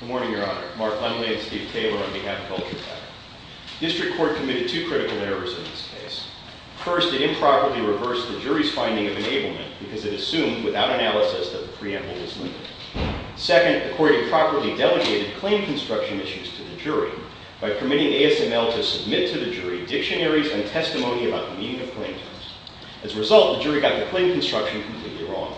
Good morning, your honor. Mark Langley and Steve Taylor on behalf of Vulture Tech. District Court committed two critical errors in this case. First, it improperly reversed the jury's finding of enablement because it assumed, without analysis, that the preamble was limited. Second, the court improperly delegated claim construction issues to the jury by permitting ASML to submit to the jury dictionaries and testimony about the meaning of claim terms. As a result, the jury got the claim construction completely wrong.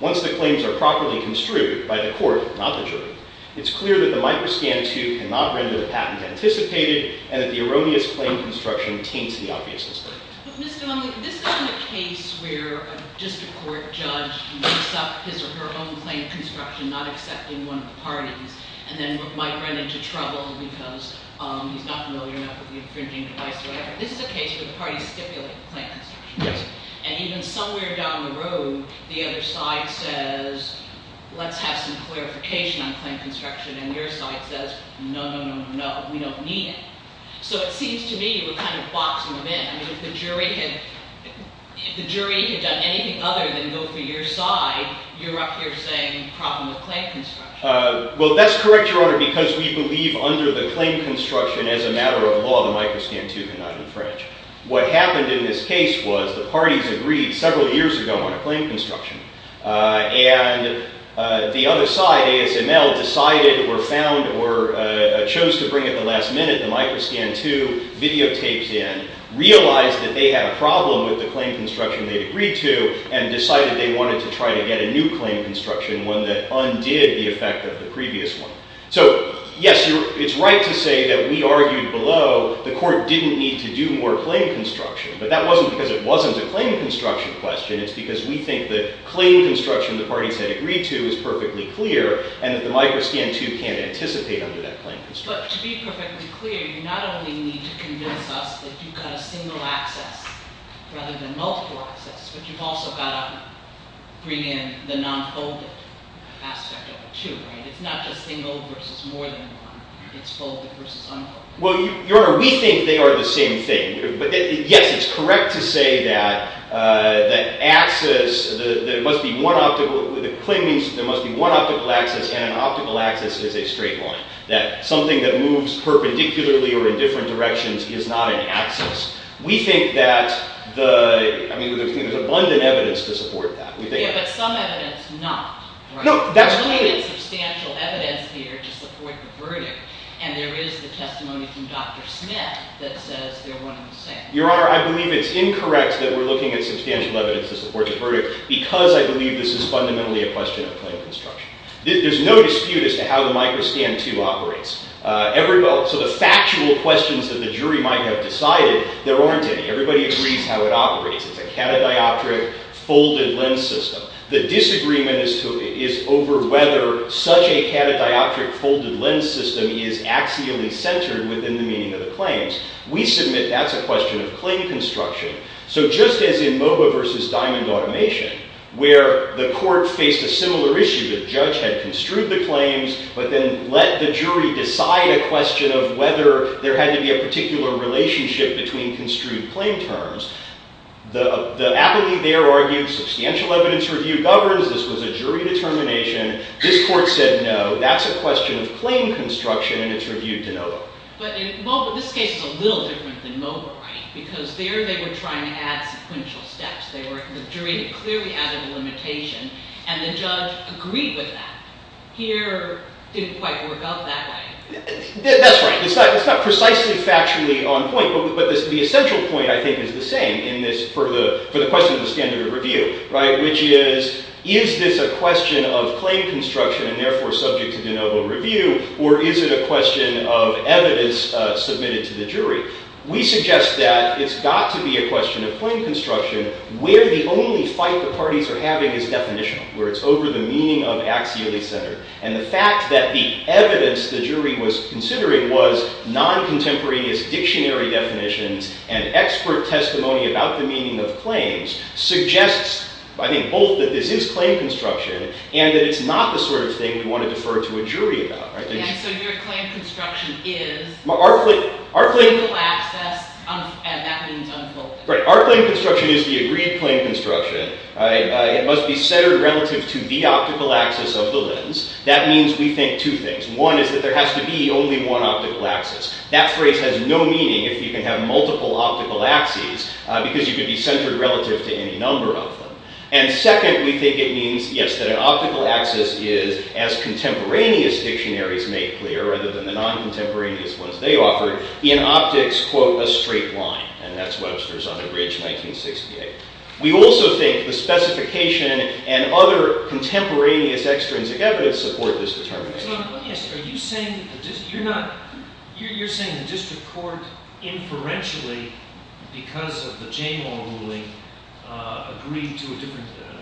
Once the claims are properly construed by the court, not the jury, it's clear that the microscan II cannot render the patent anticipated and that the erroneous claim construction taints the obviousness of the case. But Mr. Langley, this isn't a case where a district court judge makes up his or her own claim construction, not accepting one of the parties. And then might run into trouble because he's not familiar enough with the infringing device or whatever. This is a case where the parties stipulate the claim construction. And even somewhere down the road, the other side says, let's have some clarification on claim construction. And your side says, no, no, no, no, no, we don't need it. So it seems to me we're kind of boxing them in. I mean, if the jury had done anything other than go for your side, you're up here saying problem with claim construction. Well, that's correct, Your Honor, because we believe under the claim construction as a matter of law, the microscan II cannot infringe. What happened in this case was the parties agreed several years ago on a claim construction. And the other side, ASML, decided or found or chose to bring at the last minute the microscan II videotaped in, realized that they had a problem with the claim construction they'd agreed to, and decided they wanted to try to get a new claim construction, one that undid the effect of the previous one. So yes, it's right to say that we argued below the court didn't need to do more claim construction. But that wasn't because it wasn't a claim construction question. It's because we think the claim construction the parties had agreed to is perfectly clear, and that the microscan II can't anticipate under that claim construction. But to be perfectly clear, you not only need to convince us that you've got a single access rather than multiple access, but you've also got to bring in the non-folded aspect of it, too, right? It's not just single versus more than one. It's folded versus unfolded. Well, Your Honor, we think they are the same thing. But yes, it's correct to say that the claim means there must be one optical access, and an optical access is a straight line. That something that moves perpendicularly or in different directions is not an access. We think that there's abundant evidence to support that. Yeah, but some evidence not. No, that's clear. There's plenty of substantial evidence here to support the verdict. And there is the testimony from Dr. Smith that says they're one and the same. Your Honor, I believe it's incorrect that we're looking at substantial evidence to support the verdict because I believe this is fundamentally a question of claim construction. There's no dispute as to how the microscan II operates. So the factual questions that the jury might have decided, there aren't any. Everybody agrees how it operates. It's a catadioptric folded lens system. The disagreement is over whether such a catadioptric folded lens system is axially centered within the meaning of the claims. We submit that's a question of claim construction. So just as in MOBA versus diamond automation, where the court faced a similar issue, the judge had construed the claims, but then let the jury decide a question of whether there had to be a particular relationship between construed claim terms. The apathy there argued substantial evidence review governs. This was a jury determination. This court said no. That's a question of claim construction. And it's reviewed de novo. But in MOBA, this case is a little different than MOBA, right? Because there they were trying to add sequential steps. The jury clearly added a limitation. And the judge agreed with that. Here, it didn't quite work out that way. That's right. It's not precisely factually on point. But the essential point, I think, is the same for the question of the standard of review, which is, is this a question of claim construction and therefore subject to de novo review, or is it a question of evidence submitted to the jury? We suggest that it's got to be a question of claim construction where the only fight the parties are having is definitional, where it's over the meaning of axially centered. And the fact that the evidence the jury was considering was non-contemporaneous dictionary definitions and expert testimony about the meaning of claims suggests, I think, both that this is claim construction and that it's not the sort of thing we want to defer to a jury about. So your claim construction is? Our claim construction is the agreed claim construction. It must be centered relative to the optical axis of the lens. That means we think two things. One is that there has to be only one optical axis. That phrase has no meaning if you can have multiple optical axes because you could be centered relative to any number of them. And second, we think it means, yes, that an optical axis is, as contemporaneous dictionaries make clear, rather than the non-contemporaneous ones they offer, in optics, quote, a straight line. And that's Webster's Unabridged 1968. We also think the specification and other contemporaneous extrinsic evidence support this determination. Your Honor, you're saying the district court inferentially, because of the Jamal ruling,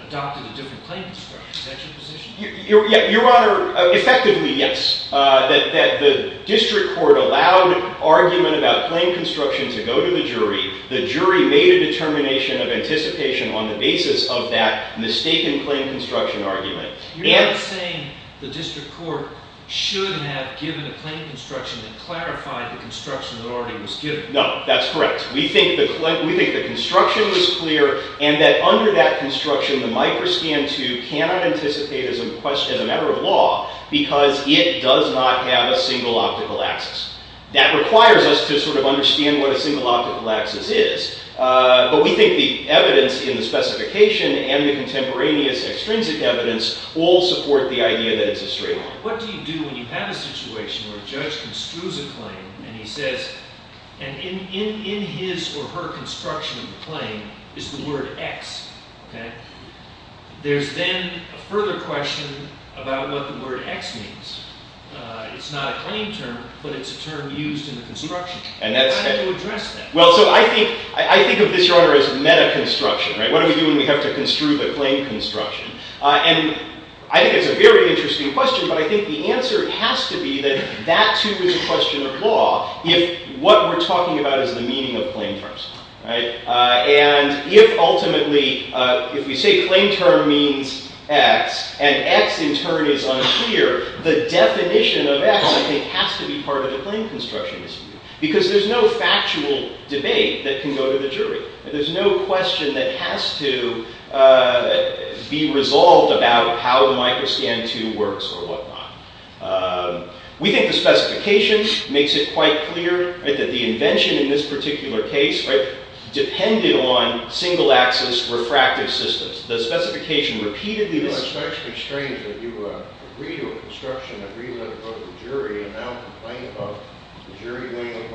adopted a different claim construction. Is that your position? Your Honor, effectively, yes. That the district court allowed argument about claim construction to go to the jury. The jury made a determination of anticipation on the basis of that mistaken claim construction argument. You're not saying the district court should have given a claim construction that clarified the construction that already was given. No, that's correct. We think the construction was clear, and that under that construction, the Microscan II cannot anticipate as a matter of law because it does not have a single optical axis. That requires us to sort of understand what a single optical axis is. But we think the evidence in the specification and the contemporaneous extrinsic evidence all support the idea that it's a straight line. What do you do when you have a situation where a judge construes a claim and he says, and in his or her construction of the claim is the word X. There's then a further question about what the word X means. It's not a claim term, but it's a term used in the construction. How do you address that? I think of this, Your Honor, as meta-construction. What do we do when we have to construe the claim construction? I think it's a very interesting question, but I think the answer has to be that that too is a question of law if what we're talking about is the meaning of claim terms. And if ultimately, if we say claim term means X and X in turn is unclear, the definition of X I think has to be part of the claim construction. Because there's no factual debate that can go to the jury. There's no question that has to be resolved about how the Microscan II works or whatnot. We think the specification makes it quite clear that the invention in this particular case depended on single-axis refractive systems. The specification repeatedly lists... It's actually strange that you agree to a construction that we let it go to the jury and now complain about the jury going over it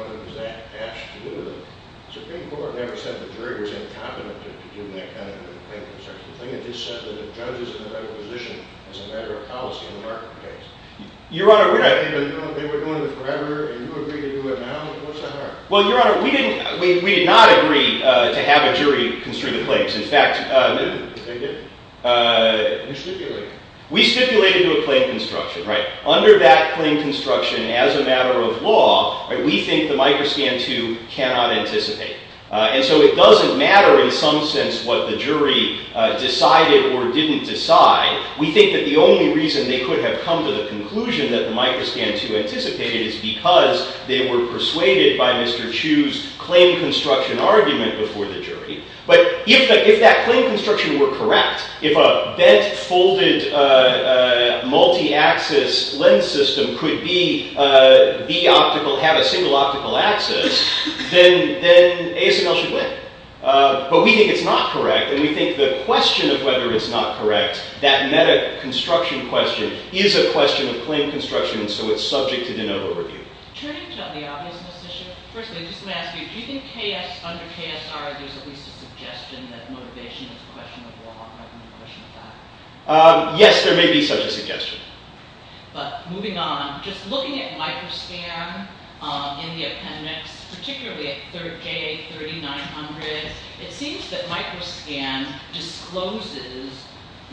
Supreme Court never said the jury was incompetent to do that kind of claim construction. They just said that a judge is in a better position as a matter of policy in the market case. Your Honor, we're not... Even though they were doing it forever and you agree to do it now, what's the harm? Well, Your Honor, we did not agree to have a jury construe the claims. In fact... They did. You stipulated. We stipulated to do a claim construction, right? Under that claim construction, as a matter of law, we think the Microscan II cannot anticipate. And so it doesn't matter in some sense what the jury decided or didn't decide. We think that the only reason they could have come to the conclusion that the Microscan II anticipated is because they were persuaded by Mr. Chu's claim construction argument before the jury. But if that claim construction were correct, if a bent, folded, multi-axis lens system could have a single optical axis, then ASML should win. But we think it's not correct, and we think the question of whether it's not correct, that meta-construction question, is a question of claim construction, and so it's subject to de novo review. Change on the obviousness issue. Firstly, I just want to ask you, do you think under KSR there's at least a suggestion that motivation is a question of law, rather than a question of fact? Yes, there may be such a suggestion. But moving on, just looking at Microscan in the appendix, particularly at J.A. 3900, it seems that Microscan discloses,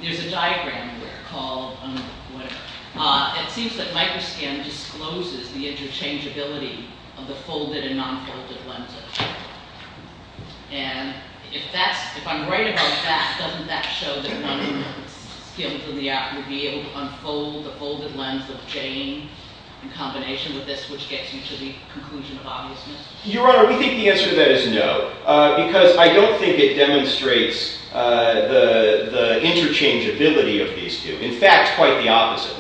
there's a diagram there called, whatever, it seems that Microscan discloses the interchangeability of the folded and non-folded lenses. And if I'm right about that, doesn't that show that one of the skills of the art would be able to unfold the folded lens of Jane in combination with this, which gets you to the conclusion of obviousness? Your Honor, we think the answer to that is no. Because I don't think it demonstrates the interchangeability of these two. In fact, quite the opposite.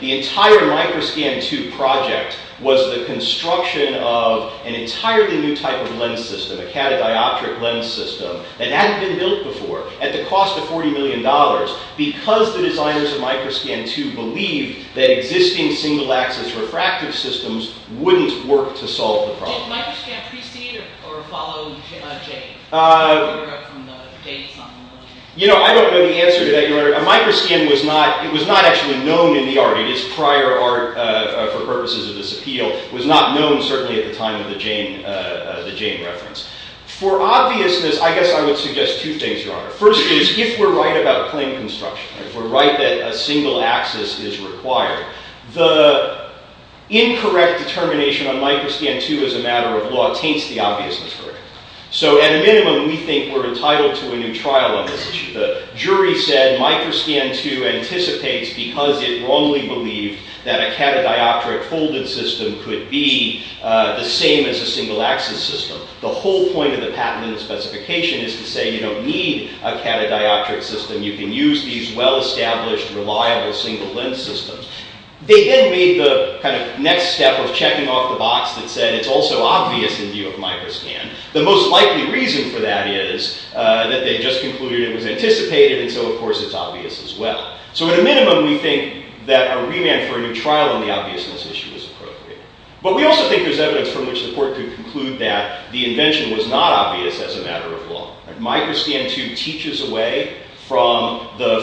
The entire Microscan II project was the construction of an entirely new type of lens system, a catadioptric lens system, that hadn't been built before, at the cost of $40 million, because the designers of Microscan II believed that existing single-axis refractive systems wouldn't work to solve the problem. Did Microscan precede or follow Jane? I don't know the answer to that, Your Honor. Microscan was not actually known in the art. It is prior art for purposes of this appeal. It was not known, certainly, at the time of the Jane reference. For obviousness, I guess I would suggest two things, Your Honor. First is, if we're right about plane construction, if we're right that a single axis is required, the incorrect determination on Microscan II as a matter of law taints the obviousness for it. So, at a minimum, we think we're entitled to a new trial on this issue. The jury said Microscan II anticipates because it wrongly believed that a catadioptric folded system could be the same as a single-axis system. The whole point of the patent and the specification is to say you don't need a catadioptric system. You can use these well-established, reliable single-lens systems. They then made the kind of next step of checking off the box that said it's also obvious in view of Microscan. The most likely reason for that is that they just concluded it was anticipated, and so, of course, it's obvious as well. So, at a minimum, we think that a remand for a new trial on the obviousness issue is appropriate. But we also think there's evidence from which the court could conclude that the invention was not obvious as a matter of law. Microscan II teaches away from the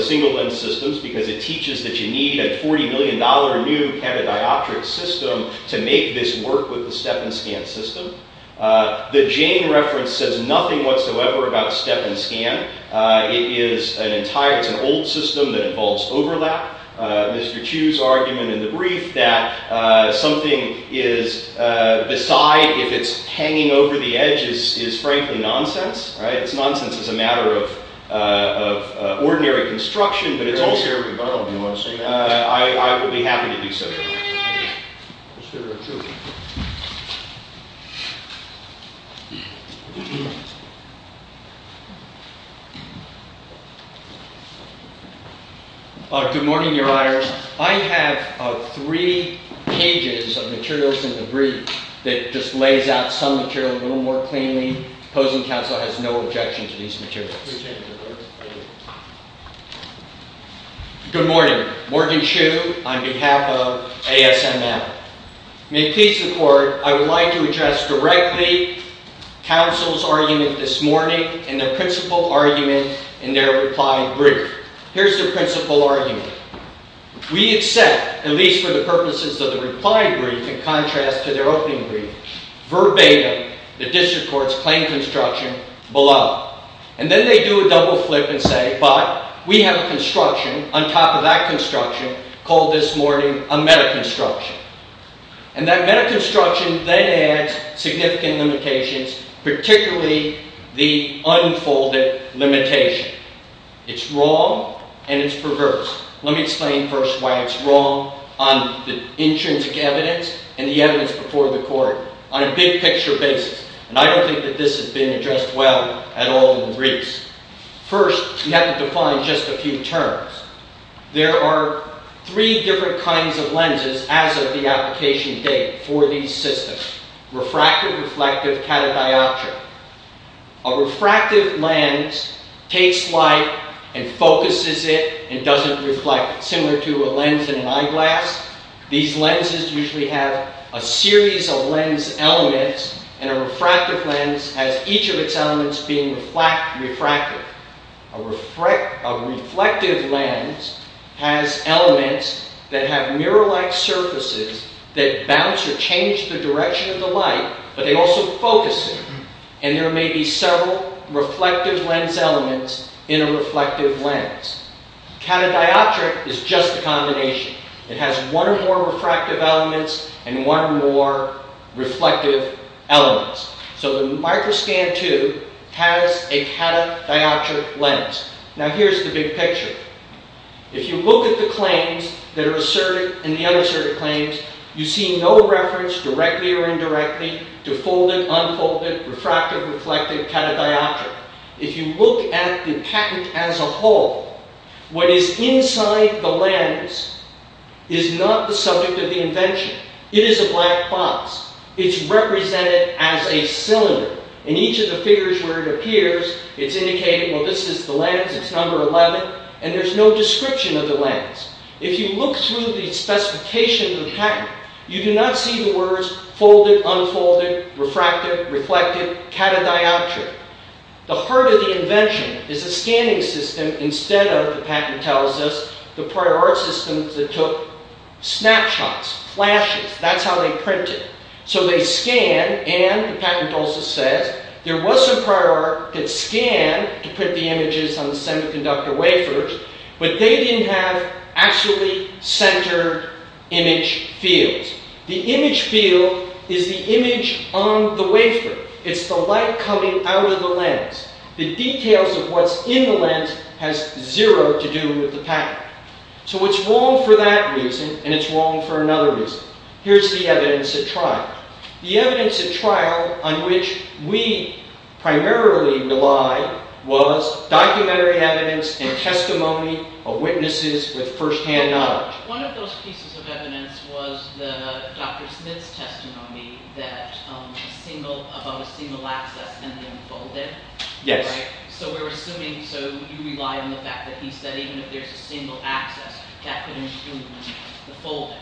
single-lens systems because it teaches that you need a $40 million new catadioptric system to make this work with the step-and-scan system. The Jane reference says nothing whatsoever about step-and-scan. It's an old system that involves overlap. Mr. Chu's argument in the brief that something is beside if it's hanging over the edge is, frankly, nonsense. It's nonsense as a matter of ordinary construction, but it's also... I would be happy to do so. Good morning, Your Honor. I have three pages of materials in the brief that just lays out some material a little more cleanly. Opposing counsel has no objection to these materials. Good morning. Morgan Chu on behalf of ASML. May it please the Court, I would like to address directly counsel's argument this morning and the principal argument in their reply brief. Here's the principal argument. We accept, at least for the purposes of the reply brief in contrast to their opening brief, verbatim the district court's claimed construction below. And then they do a double flip and say, but we have a construction on top of that construction called this morning a metaconstruction. And that metaconstruction then adds significant limitations, particularly the unfolded limitation. It's wrong and it's perverse. Let me explain first why it's wrong on the intrinsic evidence and the evidence before the Court on a big picture basis. And I don't think that this has been addressed well at all in briefs. First, we have to define just a few terms. There are three different kinds of lenses as of the application date for these systems. Refractive, reflective, catadioptric. A refractive lens takes light and focuses it and doesn't reflect it, similar to a lens in an eyeglass. These lenses usually have a series of lens elements and a refractive lens has each of its elements being refractive. A reflective lens has elements that have mirror-like surfaces that bounce or change the direction of the light, but they also focus it. And there may be several reflective lens elements in a reflective lens. Catadioptric is just a combination. It has one or more refractive elements and one or more reflective elements. So the microscan tube has a catadioptric lens. Now here's the big picture. If you look at the claims that are asserted and the other asserted claims, you see no reference, directly or indirectly, to folded, unfolded, refractive, reflective, catadioptric. If you look at the patent as a whole, what is inside the lens is not the subject of the invention. It is a black box. It's represented as a cylinder. In each of the figures where it appears, it's indicated, well, this is the lens, it's number 11, and there's no description of the lens. If you look through the specification of the patent, you do not see the words folded, unfolded, refractive, reflective, catadioptric. The heart of the invention is a scanning system instead of, the patent tells us, the prior art system that took snapshots, flashes. That's how they print it. So they scan and, the patent also says, there was some prior art that scanned to print the images on the semiconductor wafers, but they didn't have actually centered image fields. The image field is the image on the wafer. It's the light coming out of the lens. The details of what's in the lens has zero to do with the patent. So it's wrong for that reason, and it's wrong for another reason. Here's the evidence at trial. The evidence at trial on which we primarily relied was documentary evidence and testimony of witnesses with first-hand knowledge. One of those pieces of evidence was Dr. Smith's testimony about a single access and the unfolded. Yes. So we're assuming, so you rely on the fact that he said even if there's a single access, that could include the folded.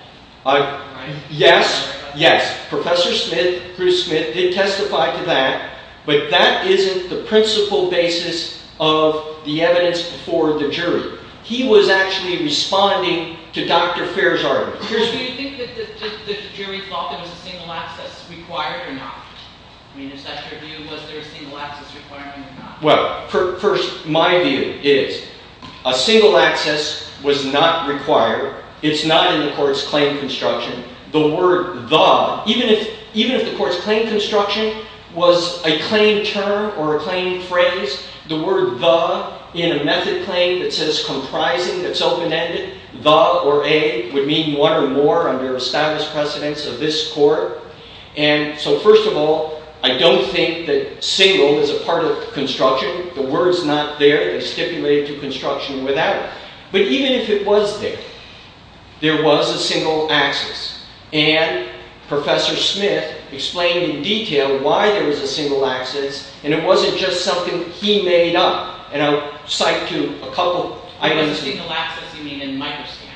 Yes, yes. Professor Smith, Bruce Smith, did testify to that, but that isn't the principal basis of the evidence before the jury. He was actually responding to Dr. Fair's argument. Do you think that the jury thought there was a single access required or not? I mean, is that your view? Was there a single access requirement or not? Well, first, my view is a single access was not required. It's not in the court's claim construction. The word the, even if the court's claim construction was a claim term or a claim phrase, the word the in a method claim that says comprising, that's open-ended, the or a would mean one or more under a status precedence of this court. And so first of all, I don't think that single is a part of construction. The word's not there. It's stipulated to construction without it. But even if it was there, there was a single access. And Professor Smith explained in detail why there was a single access. And it wasn't just something he made up. And I'll cite to a couple items. By single access, you mean in micro-scan.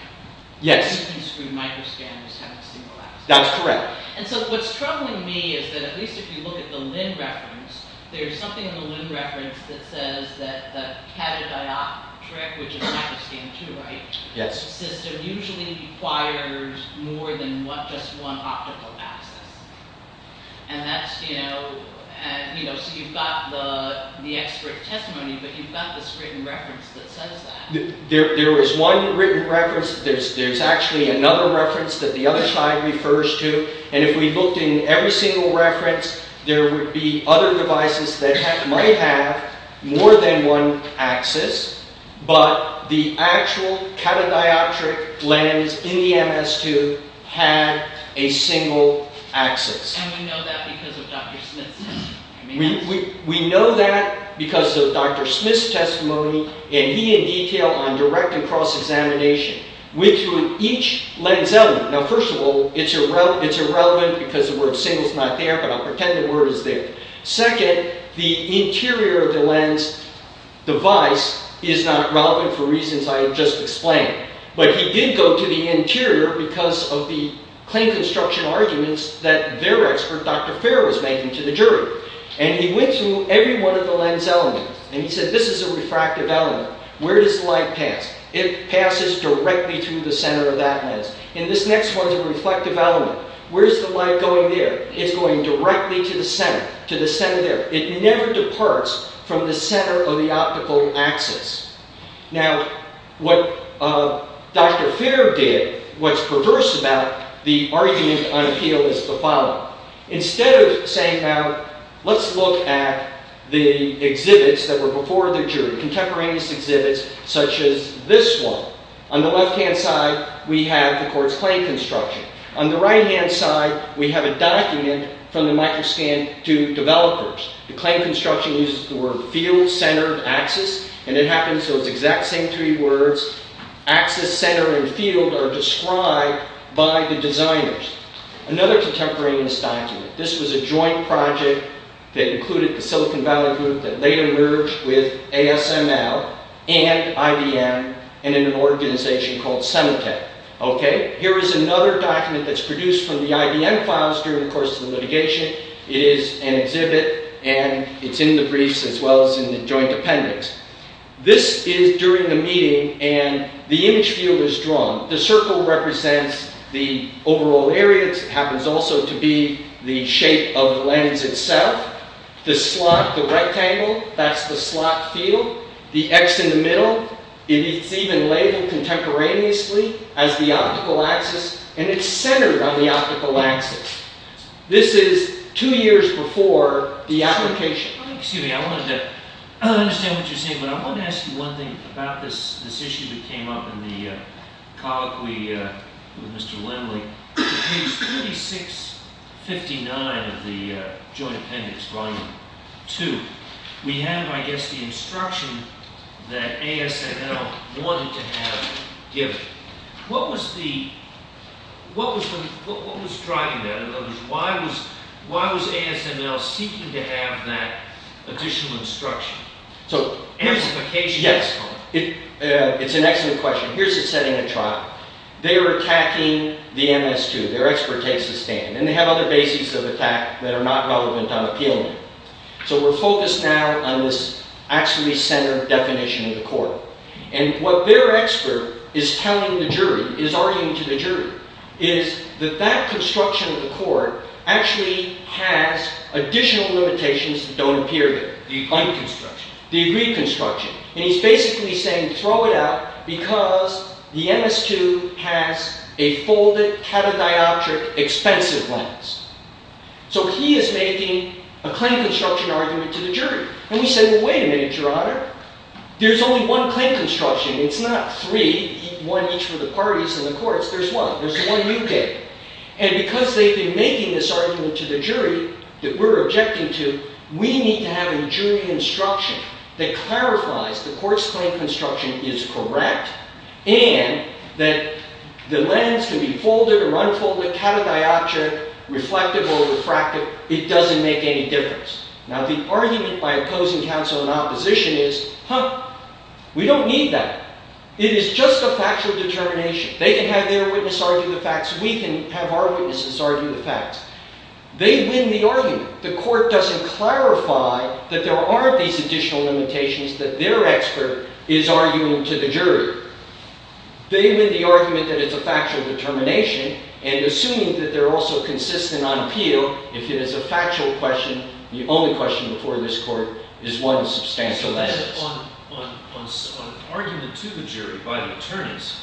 Yes. And he screwed micro-scan, just having a single access. That's correct. And so what's troubling me is that at least if you look at the Linn reference, there's something in the Linn reference that says that the catadioptric, which is micro-scan too, right? Yes. The catadioptric system usually requires more than just one optical access. And that's, you know, so you've got the expert testimony, but you've got this written reference that says that. There is one written reference. There's actually another reference that the other slide refers to. And if we looked in every single reference, there would be other devices that might have more than one access. But the actual catadioptric lens in the MS-2 had a single access. And we know that because of Dr. Smith's testimony. We know that because of Dr. Smith's testimony, and he in detail on direct and cross-examination. With each lens element. Now, first of all, it's irrelevant because the word single's not there, but I'll pretend the word is there. Second, the interior of the lens device is not relevant for reasons I have just explained. But he did go to the interior because of the claim construction arguments that their expert, Dr. Fair, was making to the jury. And he went through every one of the lens elements, and he said, this is a refractive element. Where does light pass? It passes directly through the center of that lens. And this next one's a reflective element. Where's the light going there? It's going directly to the center. To the center there. It never departs from the center of the optical axis. Now, what Dr. Fair did, what's perverse about the argument on appeal is the following. Instead of saying, now, let's look at the exhibits that were before the jury, contemporaneous exhibits such as this one. On the left-hand side, we have the court's claim construction. On the right-hand side, we have a document from the microscan to developers. The claim construction uses the word field, center, axis. And it happens those exact same three words. Axis, center, and field are described by the designers. Another contemporaneous document. This was a joint project that included the Silicon Valley group that later merged with ASML and IBM in an organization called Semitech. Here is another document that's produced from the IBM files during the course of the litigation. It is an exhibit, and it's in the briefs as well as in the joint appendix. This is during the meeting, and the image field is drawn. The circle represents the overall area. It happens also to be the shape of the lens itself. The slot, the rectangle, that's the slot field. The X in the middle, it's even labeled contemporaneously as the optical axis. And it's centered on the optical axis. This is two years before the application. Excuse me. I wanted to understand what you're saying, but I wanted to ask you one thing about this issue that came up in the cog with Mr. Lindley. In page 3659 of the joint appendix, volume 2, we have, I guess, the instruction that ASML wanted to have given. What was driving that? In other words, why was ASML seeking to have that additional instruction? Amplification? Yes. It's an excellent question. Here's it's setting a trial. They're attacking the MS2. Their expert takes the stand. And they have other bases of attack that are not relevant on appeal. So we're focused now on this axially centered definition of the court. And what their expert is telling the jury, is arguing to the jury, is that that construction of the court actually has additional limitations that don't appear there. The unconstruction. The reconstruction. And he's basically saying throw it out because the MS2 has a folded, catadioptric, expensive lens. So he is making a claim construction argument to the jury. And we say, well, wait a minute, Your Honor. There's only one claim construction. It's not three, one each for the parties and the courts. There's one. There's one you get. And because they've been making this argument to the jury that we're objecting to, we need to have a jury instruction that clarifies the court's claim construction is correct and that the lens can be folded or unfolded, catadioptric, reflective or refractive, it doesn't make any difference. Now the argument by opposing counsel in opposition is, huh, we don't need that. It is just a factual determination. They can have their witness argue the facts. We can have our witnesses argue the facts. They win the argument. The court doesn't clarify that there aren't these additional limitations that their expert is arguing to the jury. They win the argument that it's a factual determination. And assuming that they're also consistent on appeal, if it is a factual question, the only question before this court is one substantial basis. So then on argument to the jury by the attorneys,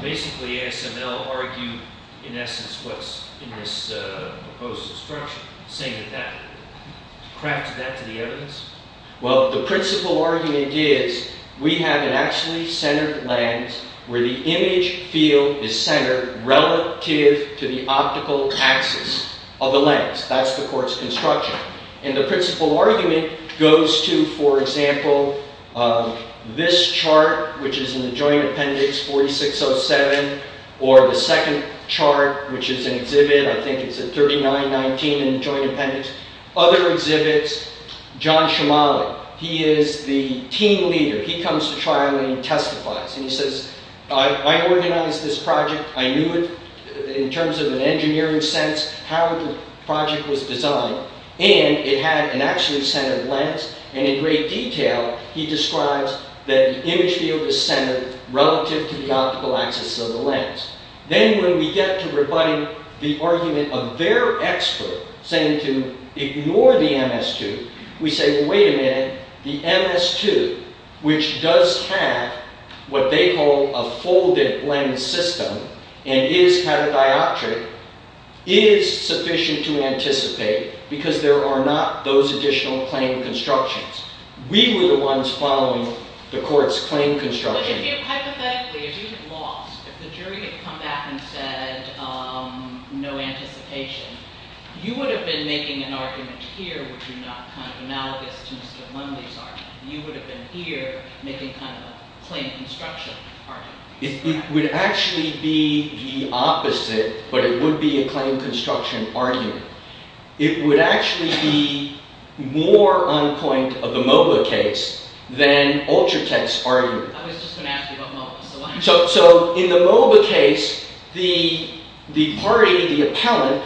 basically ASML argued, in essence, what's in this proposed instruction, saying that that crafted that to the evidence? Well, the principal argument is we have an actually centered lens where the image field is centered relative to the optical axis of the lens. That's the court's construction. And the principal argument goes to, for example, this chart, which is in the joint appendix 4607, or the second chart, which is an exhibit. I think it's at 3919 in the joint appendix. Other exhibits, John Shimali, he is the team leader. He comes to trial and he testifies. And he says, I organized this project. I knew it in terms of an engineering sense how the project was designed. And it had an actually centered lens. And in great detail, he describes that the image field is centered relative to the optical axis of the lens. Then when we get to rebutting the argument of their expert saying to ignore the MS2, we say, well, wait a minute. The MS2, which does have what they call a folded lens system and is catadioptric, is sufficient to anticipate because there are not those additional claim constructions. We were the ones following the court's claim construction. But if you hypothetically, if you had lost, if the jury had come back and said no anticipation, you would have been making an argument here, which would be not analogous to Mr. Mundy's argument. You would have been here making a claim construction argument. It would actually be the opposite, but it would be a claim construction argument. It would actually be more on point of the MOBA case than Ultratech's argument. I was just going to ask you about MOBA. So in the MOBA case, the party, the appellant,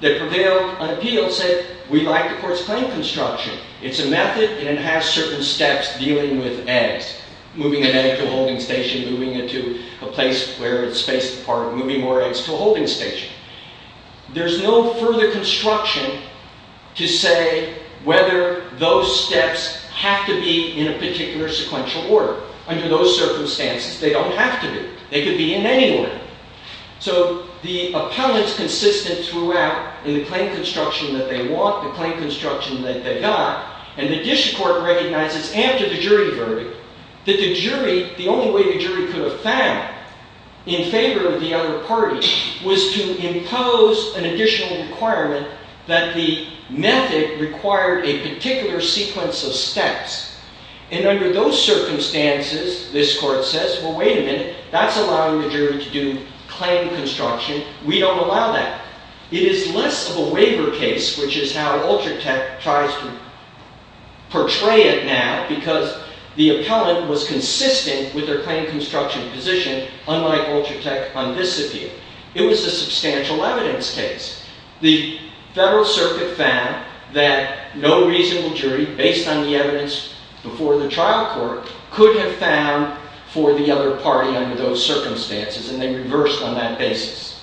that prevailed on appeal, said, we like the court's claim construction. It's a method, and it has certain steps dealing with eggs, moving an egg to a holding station, moving it to a place where it's spaced apart, moving more eggs to a holding station. There's no further construction to say whether those steps have to be in a particular sequential order. Under those circumstances, they don't have to be. They could be in any order. So the appellant's consistent throughout in the claim construction that they want, the claim construction that they got. And the district court recognizes, after the jury verdict, that the only way the jury could have found in favor of the other party was to impose an additional requirement that the method required a particular sequence of steps. And under those circumstances, this court says, well, wait a minute. That's allowing the jury to do claim construction. We don't allow that. It is less of a waiver case, which is how Ultratech tries to portray it now, because the appellant was consistent with their claim construction position, unlike Ultratech on this appeal. It was a substantial evidence case. The Federal Circuit found that no reasonable jury, based on the evidence before the trial court, could have found for the other party under those circumstances. And they reversed on that basis.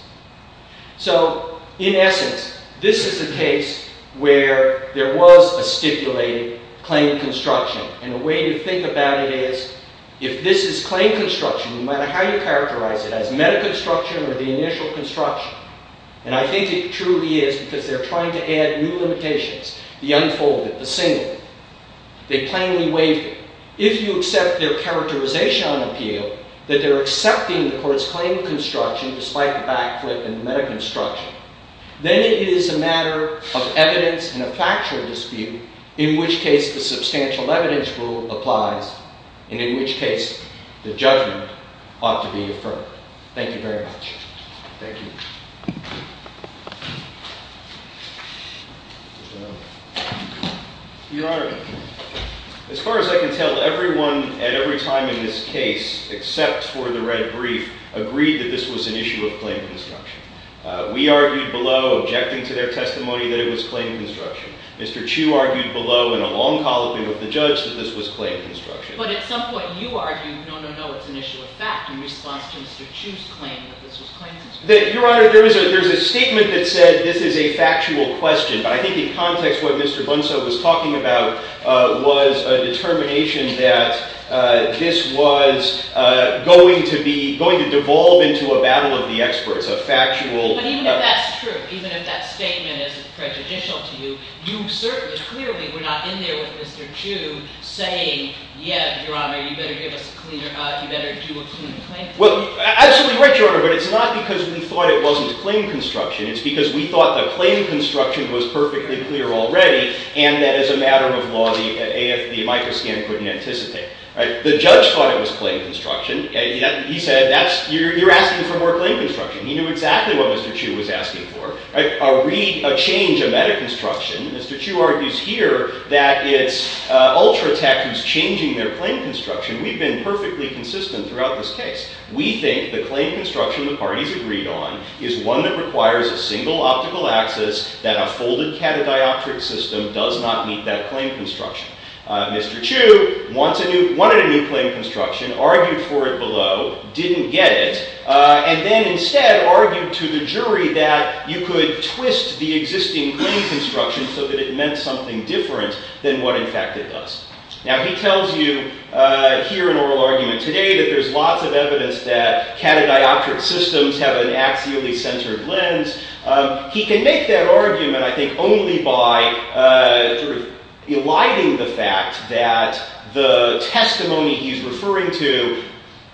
So in essence, this is a case where there was a stipulated claim construction. And a way to think about it is, if this is claim construction, no matter how you characterize it, as metaconstruction or the initial construction, and I think it truly is, because they're trying to add new limitations, the unfolded, the single, they plainly waive it. If you accept their characterization on appeal, that they're accepting the court's claim construction despite the backflip and the metaconstruction, then it is a matter of evidence and a factual dispute, in which case the substantial evidence rule applies, and in which case the judgment ought to be affirmed. Thank you very much. Thank you. Your Honor, as far as I can tell, everyone at every time in this case, except for the red brief, agreed that this was an issue of claim construction. We argued below, objecting to their testimony, that it was claim construction. Mr. Chu argued below, in a long colloquy with the judge, that this was claim construction. But at some point, you argued, no, no, no, it's an issue of fact, in response to Mr. Chu's claim that this was claim construction. Your Honor, there's a statement that said this is a factual question. But I think in context, what Mr. Bunceau was talking about was a determination that this was going to devolve into a battle of the experts, a factual battle. But even if that's true, even if that statement isn't prejudicial to you, you certainly, clearly, were not in there with Mr. Chu, saying, yeah, Your Honor, you better do a clean claim. Well, absolutely right, Your Honor. But it's not because we thought it wasn't claim construction. It's because we thought the claim construction was perfectly clear already, and that, as a matter of law, the AFB microscan couldn't anticipate. The judge thought it was claim construction. He said, you're asking for more claim construction. He knew exactly what Mr. Chu was asking for, a change of metaconstruction. Mr. Chu argues here that it's Ultratech who's changing their claim construction. We've been perfectly consistent throughout this case. We think the claim construction the parties agreed on is one that requires a single optical axis, that a folded catadioptric system does not meet that claim construction. Mr. Chu wanted a new claim construction, argued for it below, didn't get it, and then instead argued to the jury that you could twist the existing claim construction so that it meant something different than what, in fact, it does. Now, he tells you here in oral argument today that there's lots of evidence that catadioptric systems have an axially-centered lens. He can make that argument, I think, only by eliding the fact that the testimony he's referring to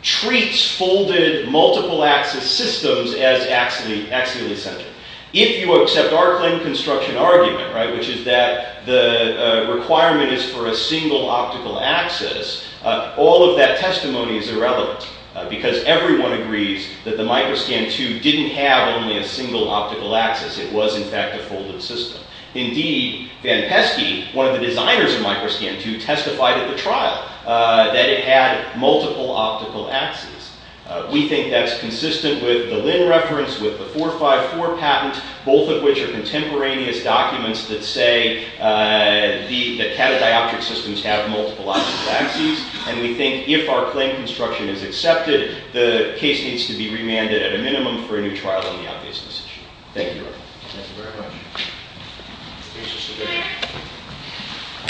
treats folded, multiple-axis systems as axially-centered. If you accept our claim construction argument, which is that the requirement is for a single optical axis, all of that testimony is irrelevant, because everyone agrees that the Microscan II didn't have only a single optical axis. It was, in fact, a folded system. Indeed, Van Pesky, one of the designers of Microscan II, testified at the trial that it had multiple optical axes. We think that's consistent with the Lin reference, with the 454 patent, both of which are contemporaneous documents that say that catadioptric systems have multiple optical axes. And we think if our claim construction is accepted, the case needs to be remanded at a minimum for a new trial on the obviousness issue. Thank you. Thank you very much.